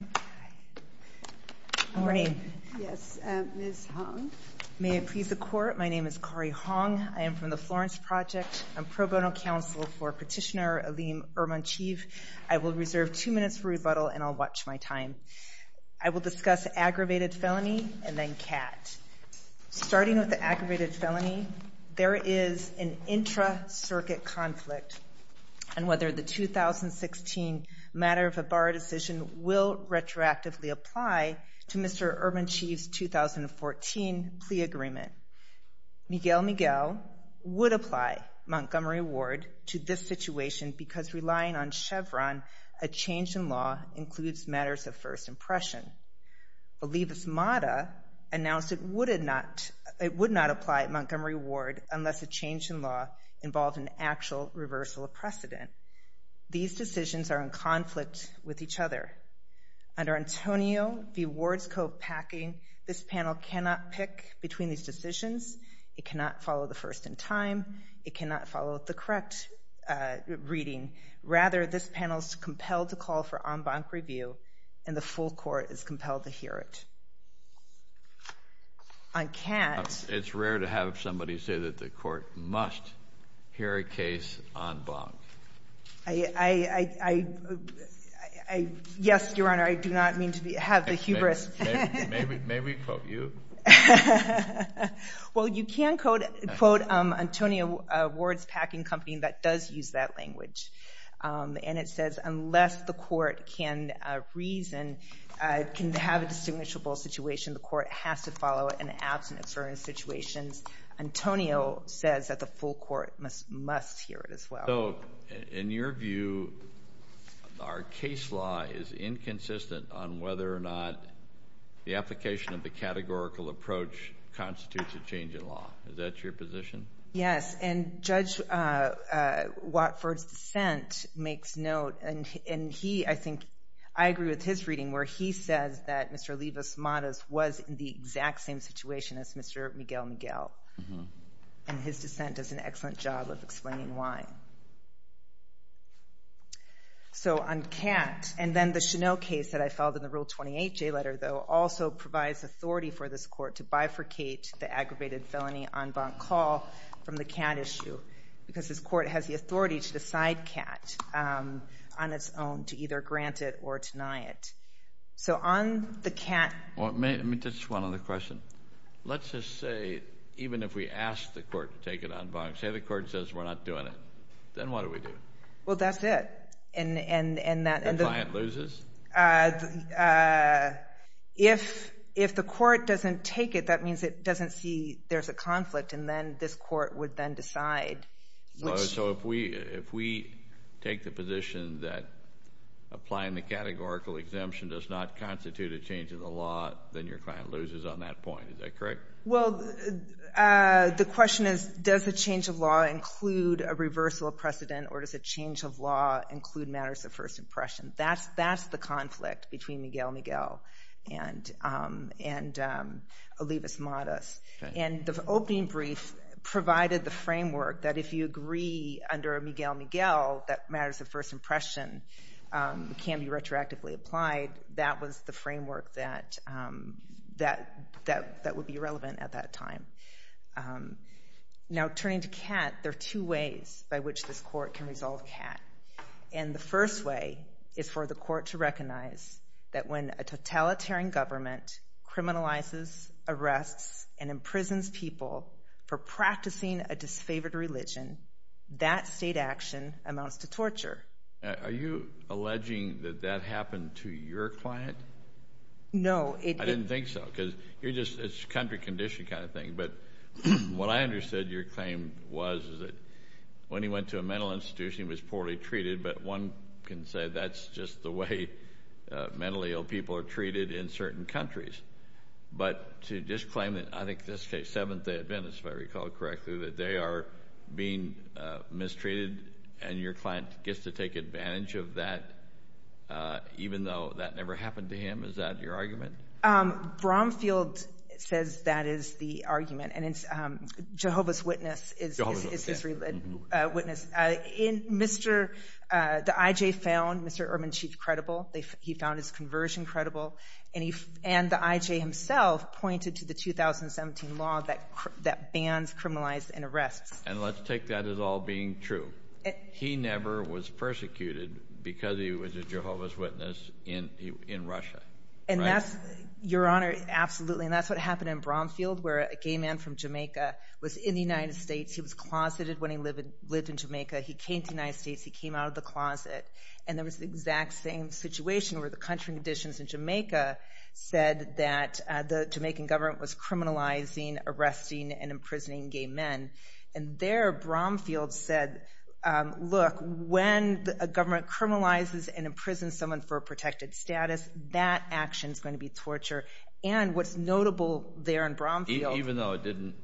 Good morning. Yes, Ms. Hong. May it please the Court, my name is Kari Hong. I am from the Florence Project. I'm pro bono counsel for Petitioner Aleem Urmancheev. I will reserve two minutes for rebuttal and I'll watch my time. I will discuss aggravated felony and then CAT. Starting with the aggravated felony, there is an intra-circuit conflict. And whether the 2016 matter of a bar decision will retroactively apply to Mr. Urmancheev's 2014 plea agreement. Miguel Miguel would apply Montgomery Ward to this situation because relying on Chevron, a change in law, includes matters of first impression. Elivas Mata announced it would not apply at Montgomery Ward unless a change in law involved an actual reversal of precedent. These decisions are in conflict with each other. Under Antonio v. Wardscope Packing, this panel cannot pick between these decisions. It cannot follow the first in time. It cannot follow the correct reading. Rather, this panel is compelled to call for en banc review and the full court is compelled to hear it. On CAT. It's rare to have somebody say that the court must hear a case en banc. Yes, Your Honor, I do not mean to have the hubris. May we quote you? Well, you can quote Antonio Wards Packing Company that does use that language. And it says unless the court can reason, can have a distinguishable situation, the court has to follow it in absence or in situations. Antonio says that the full court must hear it as well. So in your view, our case law is inconsistent on whether or not the application of the categorical approach constitutes a change in law. Is that your position? Yes. And Judge Watford's dissent makes note. And he, I think, I agree with his reading where he says that Mr. Elivas Mata was in the exact same situation as Mr. Miguel Miguel. And his dissent does an excellent job of explaining why. So on CAT. And then the Cheneaux case that I filed in the Rule 28J letter, though, also provides authority for this court to bifurcate the aggravated felony en banc call from the CAT issue. Because this court has the authority to decide CAT on its own to either grant it or deny it. So on the CAT. Let me just one other question. Let's just say even if we ask the court to take it en banc, say the court says we're not doing it, then what do we do? Well, that's it. And the client loses? If the court doesn't take it, that means it doesn't see there's a conflict, and then this court would then decide. So if we take the position that applying the categorical exemption does not constitute a change in the law, then your client loses on that point. Is that correct? Well, the question is, does a change of law include a reversal of precedent, or does a change of law include matters of first impression? That's the conflict between Miguel Miguel and Elivas Mata. And the opening brief provided the framework that if you agree under Miguel Miguel that matters of first impression can be retroactively applied, that was the framework that would be relevant at that time. Now, turning to CAT, there are two ways by which this court can resolve CAT. And the first way is for the court to recognize that when a totalitarian government criminalizes, arrests, and imprisons people for practicing a disfavored religion, that state action amounts to torture. Are you alleging that that happened to your client? No. I didn't think so, because it's a country condition kind of thing. But what I understood your claim was is that when he went to a mental institution, he was poorly treated, but one can say that's just the way mentally ill people are treated in certain countries. But to just claim that, I think in this case, Seventh Day Adventists, if I recall correctly, that they are being mistreated and your client gets to take advantage of that even though that never happened to him, is that your argument? Bromfield says that is the argument, and Jehovah's Witness is his witness. The I.J. found Mr. Urban Chief credible. He found his conversion credible. And the I.J. himself pointed to the 2017 law that bans, criminalizes, and arrests. And let's take that as all being true. He never was persecuted because he was a Jehovah's Witness in Russia. Your Honor, absolutely. And that's what happened in Bromfield where a gay man from Jamaica was in the United States. He was closeted when he lived in Jamaica. He came to the United States. He came out of the closet. And there was the exact same situation where the country conditions in Jamaica said that the Jamaican government was criminalizing, arresting, and imprisoning gay men. And there, Bromfield said, look, when a government criminalizes and imprisons someone for a protected status, that action is going to be torture. And what's notable there in Bromfield. Even though it didn't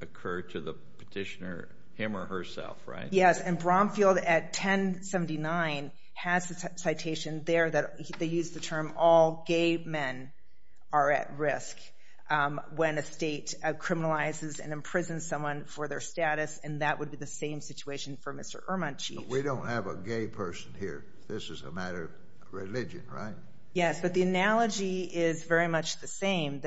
occur to the petitioner him or herself, right? Yes, and Bromfield at 1079 has a citation there that they use the term all gay men are at risk when a state criminalizes and imprisons someone for their status, and that would be the same situation for Mr. Urban Chief. But we don't have a gay person here. This is a matter of religion, right? Yes, but the analogy is very much the same.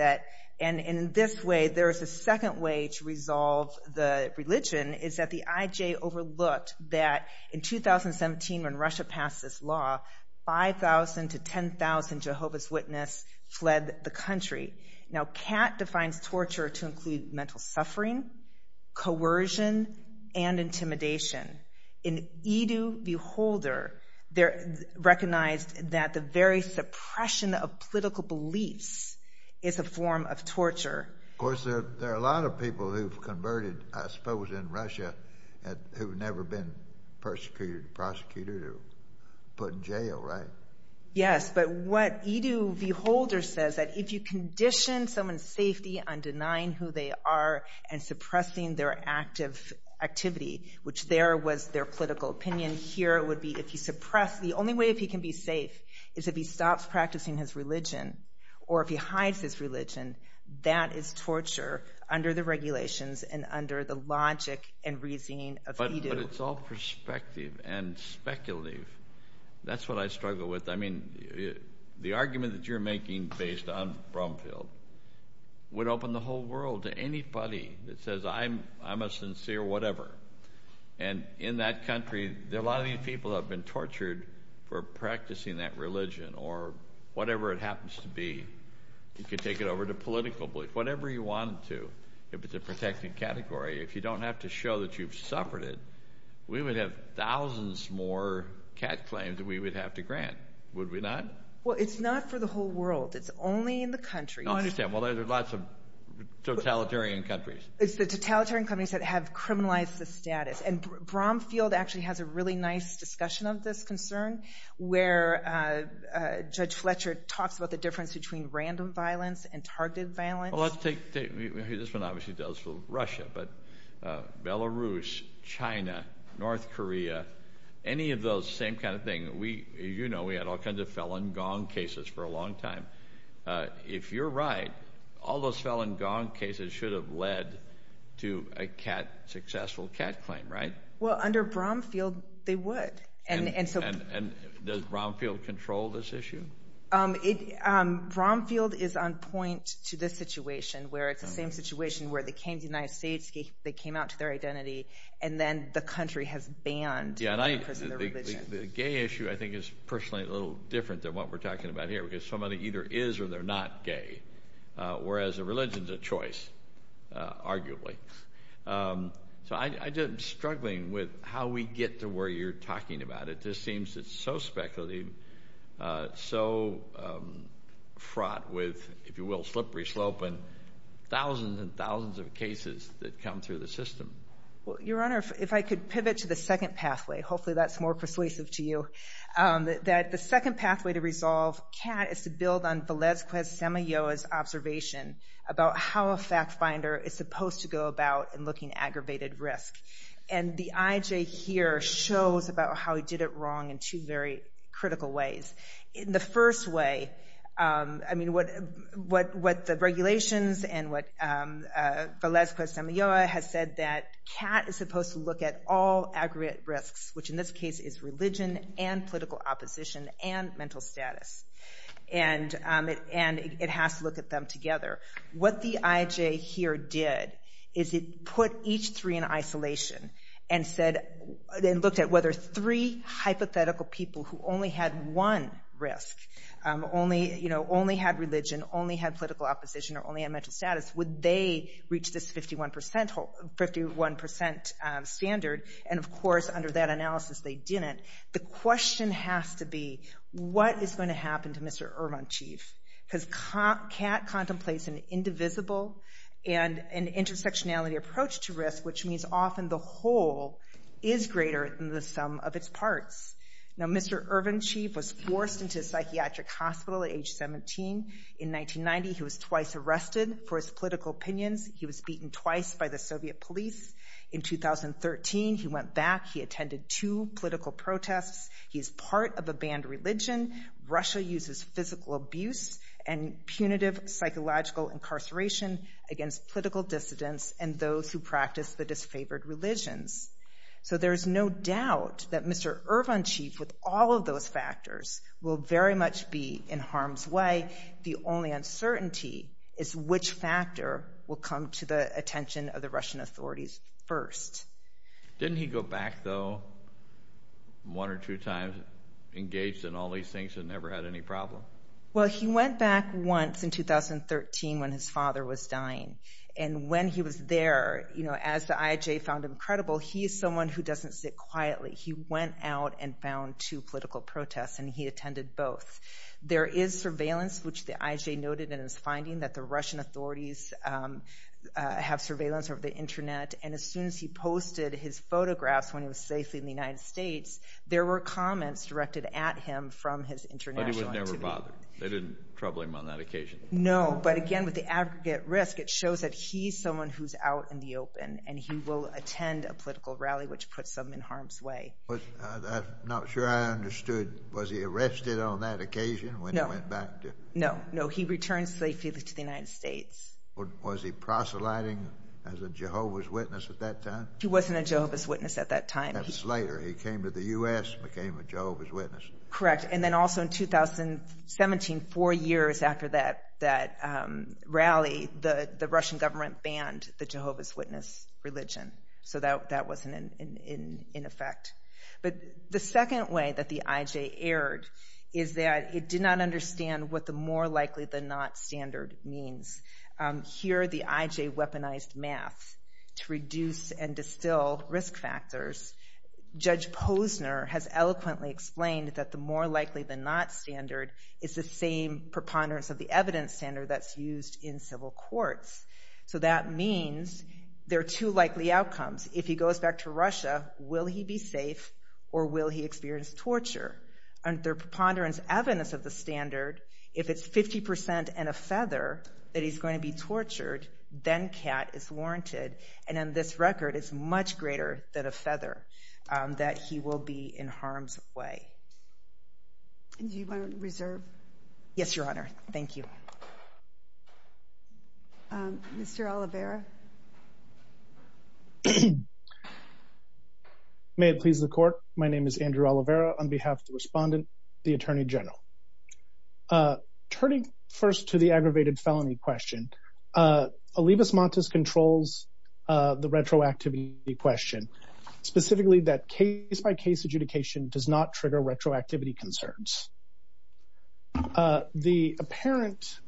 And in this way, there is a second way to resolve the religion, is that the IJ overlooked that in 2017 when Russia passed this law, 5,000 to 10,000 Jehovah's Witnesses fled the country. Now, CAT defines torture to include mental suffering, coercion, and intimidation. In Edu V. Holder, they're recognized that the very suppression of political beliefs is a form of torture. Of course, there are a lot of people who've converted, I suppose, in Russia who've never been persecuted or prosecuted or put in jail, right? Yes, but what Edu V. Holder says that if you condition someone's safety on denying who they are and suppressing their active activity, which there was their political opinion, here it would be if you suppress. The only way if he can be safe is if he stops practicing his religion or if he hides his religion. That is torture under the regulations and under the logic and reasoning of Edu. But it's all perspective and speculative. That's what I struggle with. The argument that you're making based on Brumfield would open the whole world to anybody that says, I'm a sincere whatever. And in that country, a lot of these people have been tortured for practicing that religion or whatever it happens to be. You can take it over to political belief, whatever you want to if it's a protected category. If you don't have to show that you've suffered it, we would have thousands more cat claims that we would have to grant. Would we not? Well, it's not for the whole world. It's only in the countries. Oh, I understand. Well, there's lots of totalitarian countries. It's the totalitarian countries that have criminalized the status. And Brumfield actually has a really nice discussion of this concern where Judge Fletcher talks about the difference between random violence and targeted violence. This one obviously does for Russia, but Belarus, China, North Korea, any of those same kind of thing. As you know, we had all kinds of felon gong cases for a long time. If you're right, all those felon gong cases should have led to a successful cat claim, right? Well, under Brumfield, they would. And does Brumfield control this issue? Brumfield is on point to this situation where it's the same situation where they came to the United States. They came out to their identity, and then the country has banned the person of their religion. The gay issue I think is personally a little different than what we're talking about here because somebody either is or they're not gay, whereas a religion is a choice, arguably. So I'm struggling with how we get to where you're talking about it. This seems so speculative, so fraught with, if you will, slippery slope and thousands and thousands of cases that come through the system. Well, Your Honor, if I could pivot to the second pathway. Hopefully that's more persuasive to you. The second pathway to resolve cat is to build on Velezquez-Semillo's observation about how a fact finder is supposed to go about in looking at aggravated risk. And the IJ here shows about how he did it wrong in two very critical ways. In the first way, I mean, what the regulations and what Velezquez-Semillo has said that cat is supposed to look at all aggravated risks, which in this case is religion and political opposition and mental status. And it has to look at them together. What the IJ here did is it put each three in isolation and looked at whether three hypothetical people who only had one risk, only had religion, only had political opposition, or only had mental status, would they reach this 51% standard? And, of course, under that analysis, they didn't. The question has to be, what is going to happen to Mr. Irvinchief? Because cat contemplates an indivisible and an intersectionality approach to risk, which means often the whole is greater than the sum of its parts. Now, Mr. Irvinchief was forced into a psychiatric hospital at age 17. In 1990, he was twice arrested for his political opinions. He was beaten twice by the Soviet police. In 2013, he went back. He attended two political protests. He is part of a banned religion. Russia uses physical abuse and punitive psychological incarceration against political dissidents and those who practice the disfavored religions. So there is no doubt that Mr. Irvinchief, with all of those factors, will very much be in harm's way. The only uncertainty is which factor will come to the attention of the Russian authorities first. Didn't he go back, though, one or two times, engaged in all these things and never had any problem? Well, he went back once in 2013 when his father was dying. And when he was there, as the IJ found him credible, he is someone who doesn't sit quietly. He went out and found two political protests, and he attended both. There is surveillance, which the IJ noted in his finding that the Russian authorities have surveillance over the Internet. And as soon as he posted his photographs when he was safely in the United States, there were comments directed at him from his international entity. But he was never bothered? They didn't trouble him on that occasion? No, but again, with the aggregate risk, it shows that he's someone who's out in the open, and he will attend a political rally, which puts him in harm's way. I'm not sure I understood. Was he arrested on that occasion when he went back? No, no. He returned safely to the United States. Was he proselyting as a Jehovah's Witness at that time? He wasn't a Jehovah's Witness at that time. That was later. He came to the U.S., became a Jehovah's Witness. Correct. And then also in 2017, four years after that rally, the Russian government banned the Jehovah's Witness religion. So that wasn't in effect. But the second way that the IJ erred is that it did not understand what the more likely than not standard means. Here, the IJ weaponized math to reduce and distill risk factors. Judge Posner has eloquently explained that the more likely than not standard is the same preponderance of the evidence standard that's used in civil courts. So that means there are two likely outcomes. If he goes back to Russia, will he be safe, or will he experience torture? Under preponderance evidence of the standard, if it's 50% and a feather that he's going to be tortured, then cat is warranted. And on this record, it's much greater than a feather that he will be in harm's way. Do you want to reserve? Yes, Your Honor. Thank you. Mr. Oliveira? May it please the Court, my name is Andrew Oliveira on behalf of the Respondent, the Attorney General. Turning first to the aggravated felony question, Olivas-Matas controls the retroactivity question, specifically that case-by-case adjudication does not trigger retroactivity concerns. The apparent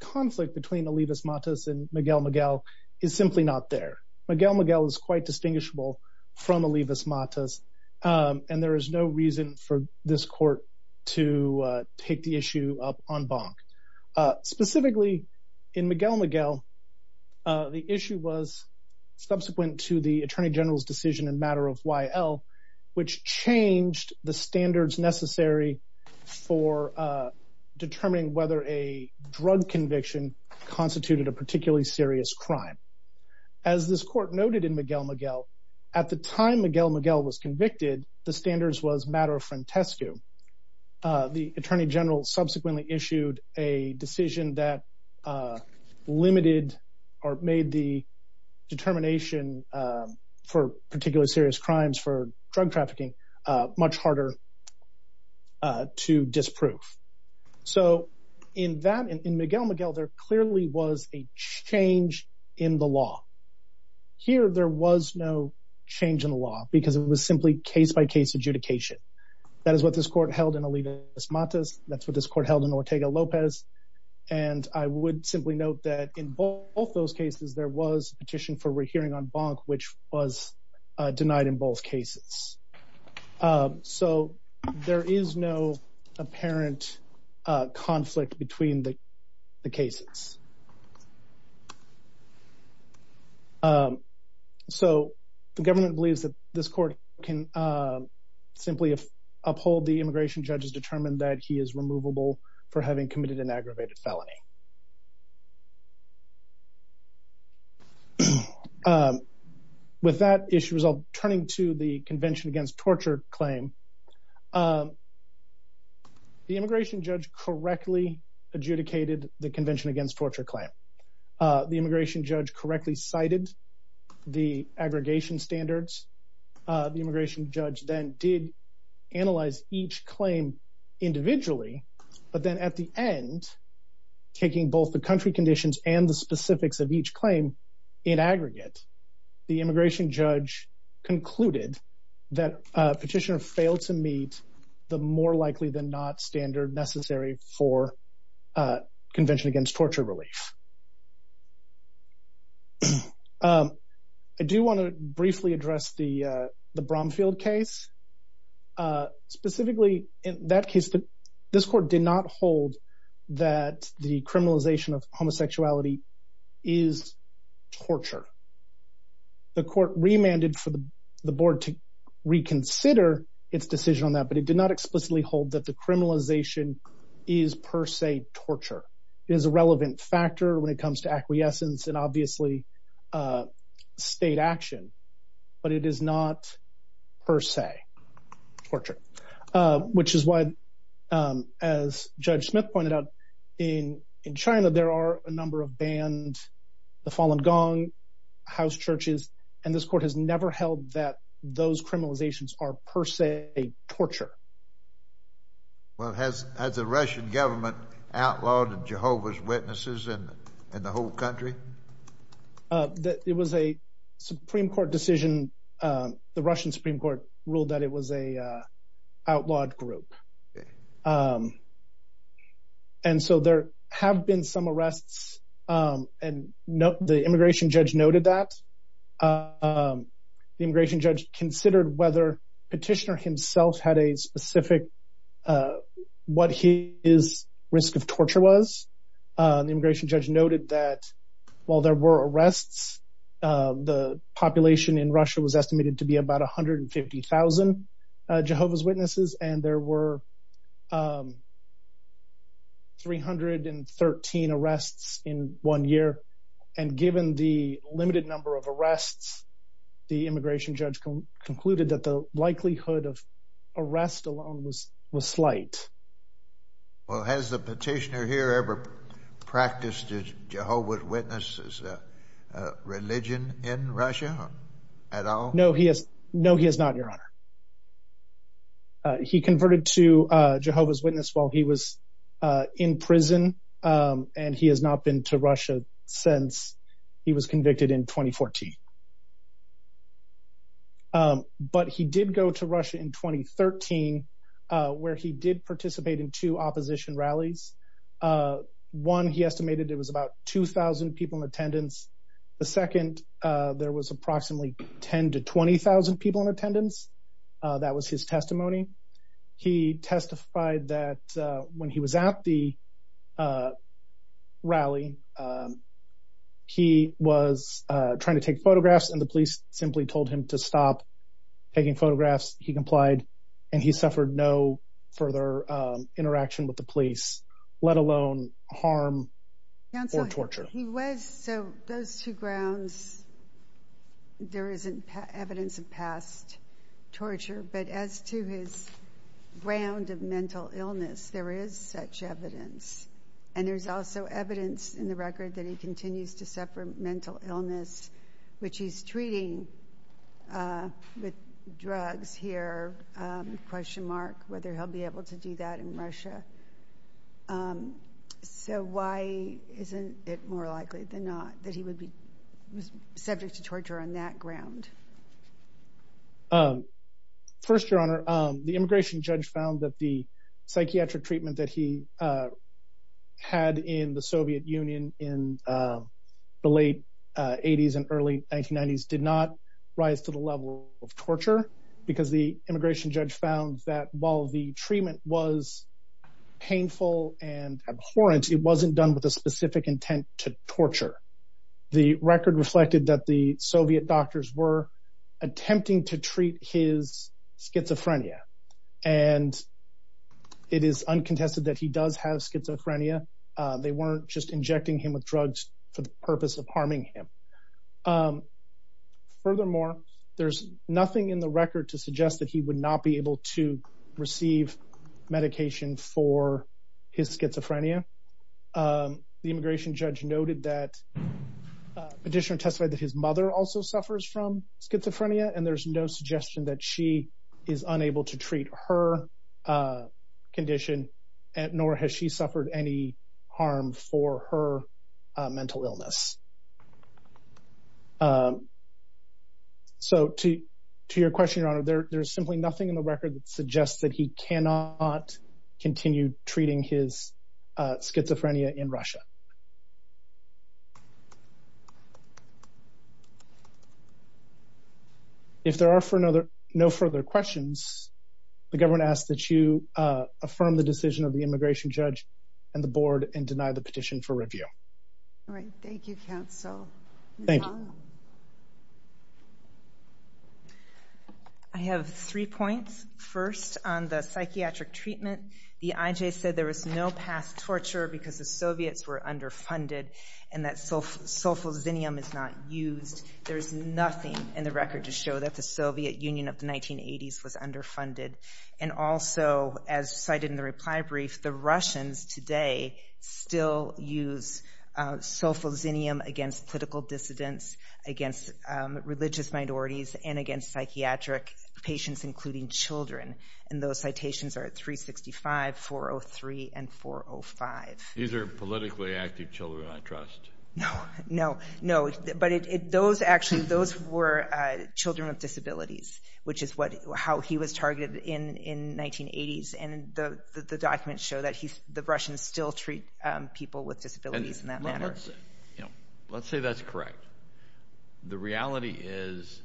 conflict between Olivas-Matas and Miguel Miguel is simply not there. Miguel Miguel is quite distinguishable from Olivas-Matas, and there is no reason for this Court to take the issue up en banc. Specifically, in Miguel Miguel, the issue was subsequent to the Attorney General's decision in matter of YL, which changed the standards necessary for determining whether a drug conviction constituted a particularly serious crime. As this Court noted in Miguel Miguel, at the time Miguel Miguel was convicted, the standards was matter of frentescu. The Attorney General subsequently issued a decision that limited or made the determination for particularly serious crimes for drug trafficking much harder to disprove. So, in that, in Miguel Miguel, there clearly was a change in the law. Here, there was no change in the law, because it was simply case-by-case adjudication. That is what this Court held in Olivas-Matas, that's what this Court held in Ortega-Lopez, and I would simply note that in both those cases, there was petition for rehearing en banc, which was denied in both cases. So, there is no apparent conflict between the cases. So, the government believes that this Court can simply uphold the immigration judge's determination that he is removable for having committed an aggravated felony. With that issue, I'll turn to the Convention Against Torture claim. The immigration judge correctly adjudicated the Convention Against Torture claim. The immigration judge correctly cited the aggregation standards. The immigration judge then did analyze each claim individually, but then at the end, taking both the country conditions and the specifics of each claim in aggregate, the immigration judge concluded that petitioner failed to meet the more likely than not standard necessary for Convention Against Torture relief. I do want to briefly address the Bromfield case. Specifically, in that case, this Court did not hold that the criminalization of homosexuality is torture. The Court remanded for the Board to reconsider its decision on that, but it did not explicitly hold that the criminalization is per se torture. It is a relevant factor when it comes to acquiescence and, obviously, state action, but it is not per se torture. Which is why, as Judge Smith pointed out, in China there are a number of banned the Falun Gong house churches, and this Court has never held that those criminalizations are per se torture. Well, has the Russian government outlawed Jehovah's Witnesses in the whole country? It was a Supreme Court decision. The Russian Supreme Court ruled that it was an outlawed group. And so there have been some arrests, and the immigration judge noted that. The immigration judge considered whether Petitioner himself had a specific, what his risk of torture was. The immigration judge noted that while there were arrests, the population in Russia was estimated to be about 150,000 Jehovah's Witnesses, and there were 313 arrests in one year. And given the limited number of arrests, the immigration judge concluded that the likelihood of arrest alone was slight. Well, has the Petitioner here ever practiced Jehovah's Witnesses religion in Russia at all? No, he has not, Your Honor. He converted to Jehovah's Witness while he was in prison, and he has not been to Russia since he was convicted in 2014. But he did go to Russia in 2013, where he did participate in two opposition rallies. One, he estimated there was about 2,000 people in attendance. The second, there was approximately 10,000 to 20,000 people in attendance. That was his testimony. He testified that when he was at the rally, he was trying to take photographs, and the police simply told him to stop taking photographs. He complied, and he suffered no further interaction with the police, let alone harm or torture. So those two grounds, there isn't evidence of past torture. But as to his ground of mental illness, there is such evidence. And there's also evidence in the record that he continues to suffer mental illness, which he's treating with drugs here, question mark, whether he'll be able to do that in Russia. So why isn't it more likely than not that he would be subject to torture on that ground? First, Your Honor, the immigration judge found that the psychiatric treatment that he had in the Soviet Union in the late 80s and early 1990s did not rise to the level of torture, because the immigration judge found that while the treatment was painful and abhorrent, it wasn't done with a specific intent to torture. The record reflected that the Soviet doctors were attempting to treat his schizophrenia. And it is uncontested that he does have schizophrenia. They weren't just injecting him with drugs for the purpose of harming him. Furthermore, there's nothing in the record to suggest that he would not be able to receive medication for his schizophrenia. The immigration judge noted that the petitioner testified that his mother also suffers from schizophrenia, and there's no suggestion that she is unable to treat her condition, nor has she suffered any harm for her mental illness. So to your question, Your Honor, there's simply nothing in the record that suggests that he cannot continue treating his schizophrenia in Russia. If there are no further questions, the government asks that you affirm the decision of the immigration judge and the board and deny the petition for review. All right. Thank you, counsel. Thank you. I have three points. First, on the psychiatric treatment, the IJ said there was no past torture because the Soviets were underfunded and that sulfazinium is not used. There's nothing in the record to show that the Soviet Union of the 1980s was underfunded. And also, as cited in the reply brief, the Russians today still use sulfazinium against political dissidents, against religious minorities, and against psychiatric patients, including children. And those citations are at 365, 403, and 405. These are politically active children I trust. No, no, no. But those actually, those were children with disabilities, which is how he was targeted in the 1980s. And the documents show that the Russians still treat people with disabilities in that manner. Let's say that's correct. The reality is,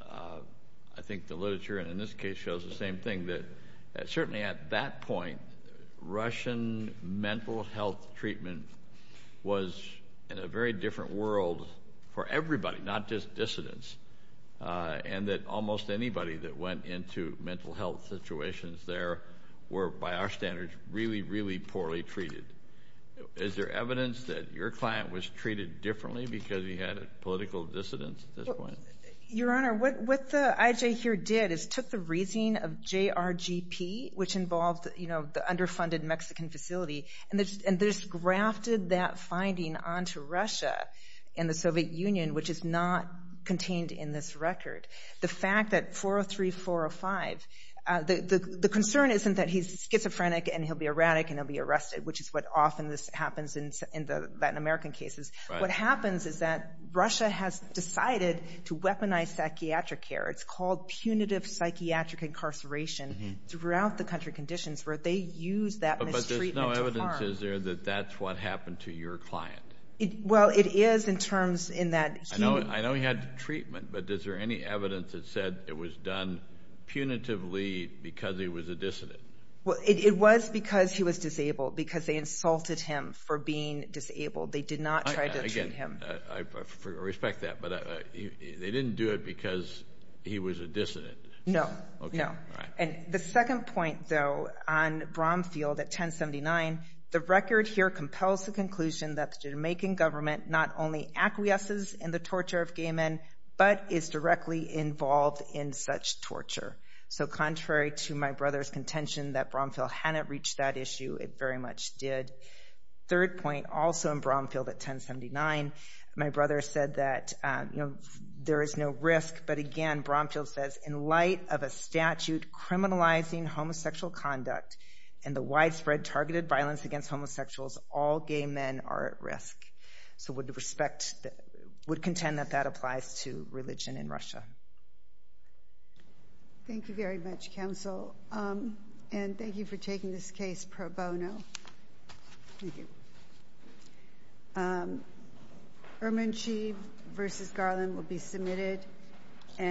I think the literature in this case shows the same thing, that certainly at that point, Russian mental health treatment was in a very different world for everybody, not just dissidents, and that almost anybody that went into mental health situations there were, by our standards, really, really poorly treated. Is there evidence that your client was treated differently because he had political dissidents at this point? Your Honor, what the IJ here did is took the reasoning of JRGP, which involved the underfunded Mexican facility, and they just grafted that finding onto Russia and the Soviet Union, which is not contained in this record. The fact that 403, 405, the concern isn't that he's schizophrenic and he'll be erratic and he'll be arrested, which is what often happens in the Latin American cases. What happens is that Russia has decided to weaponize psychiatric care. It's called punitive psychiatric incarceration throughout the country conditions where they use that mistreatment to harm. But there's no evidence, is there, that that's what happened to your client? Well, it is in terms in that he – I know he had treatment, but is there any evidence that said it was done punitively because he was a dissident? Well, it was because he was disabled, because they insulted him for being disabled. They did not try to treat him. Again, I respect that, but they didn't do it because he was a dissident. No. No. And the second point, though, on Bromfield at 1079, the record here compels the conclusion that the Jamaican government not only acquiesces in the torture of gay men, but is directly involved in such torture. So contrary to my brother's contention that Bromfield hadn't reached that issue, it very much did. Third point, also in Bromfield at 1079, my brother said that, you know, there is no risk. But again, Bromfield says, in light of a statute criminalizing homosexual conduct and the widespread targeted violence against homosexuals, all gay men are at risk. So would respect – would contend that that applies to religion in Russia. Thank you very much, Counsel. And thank you for taking this case pro bono. Thank you.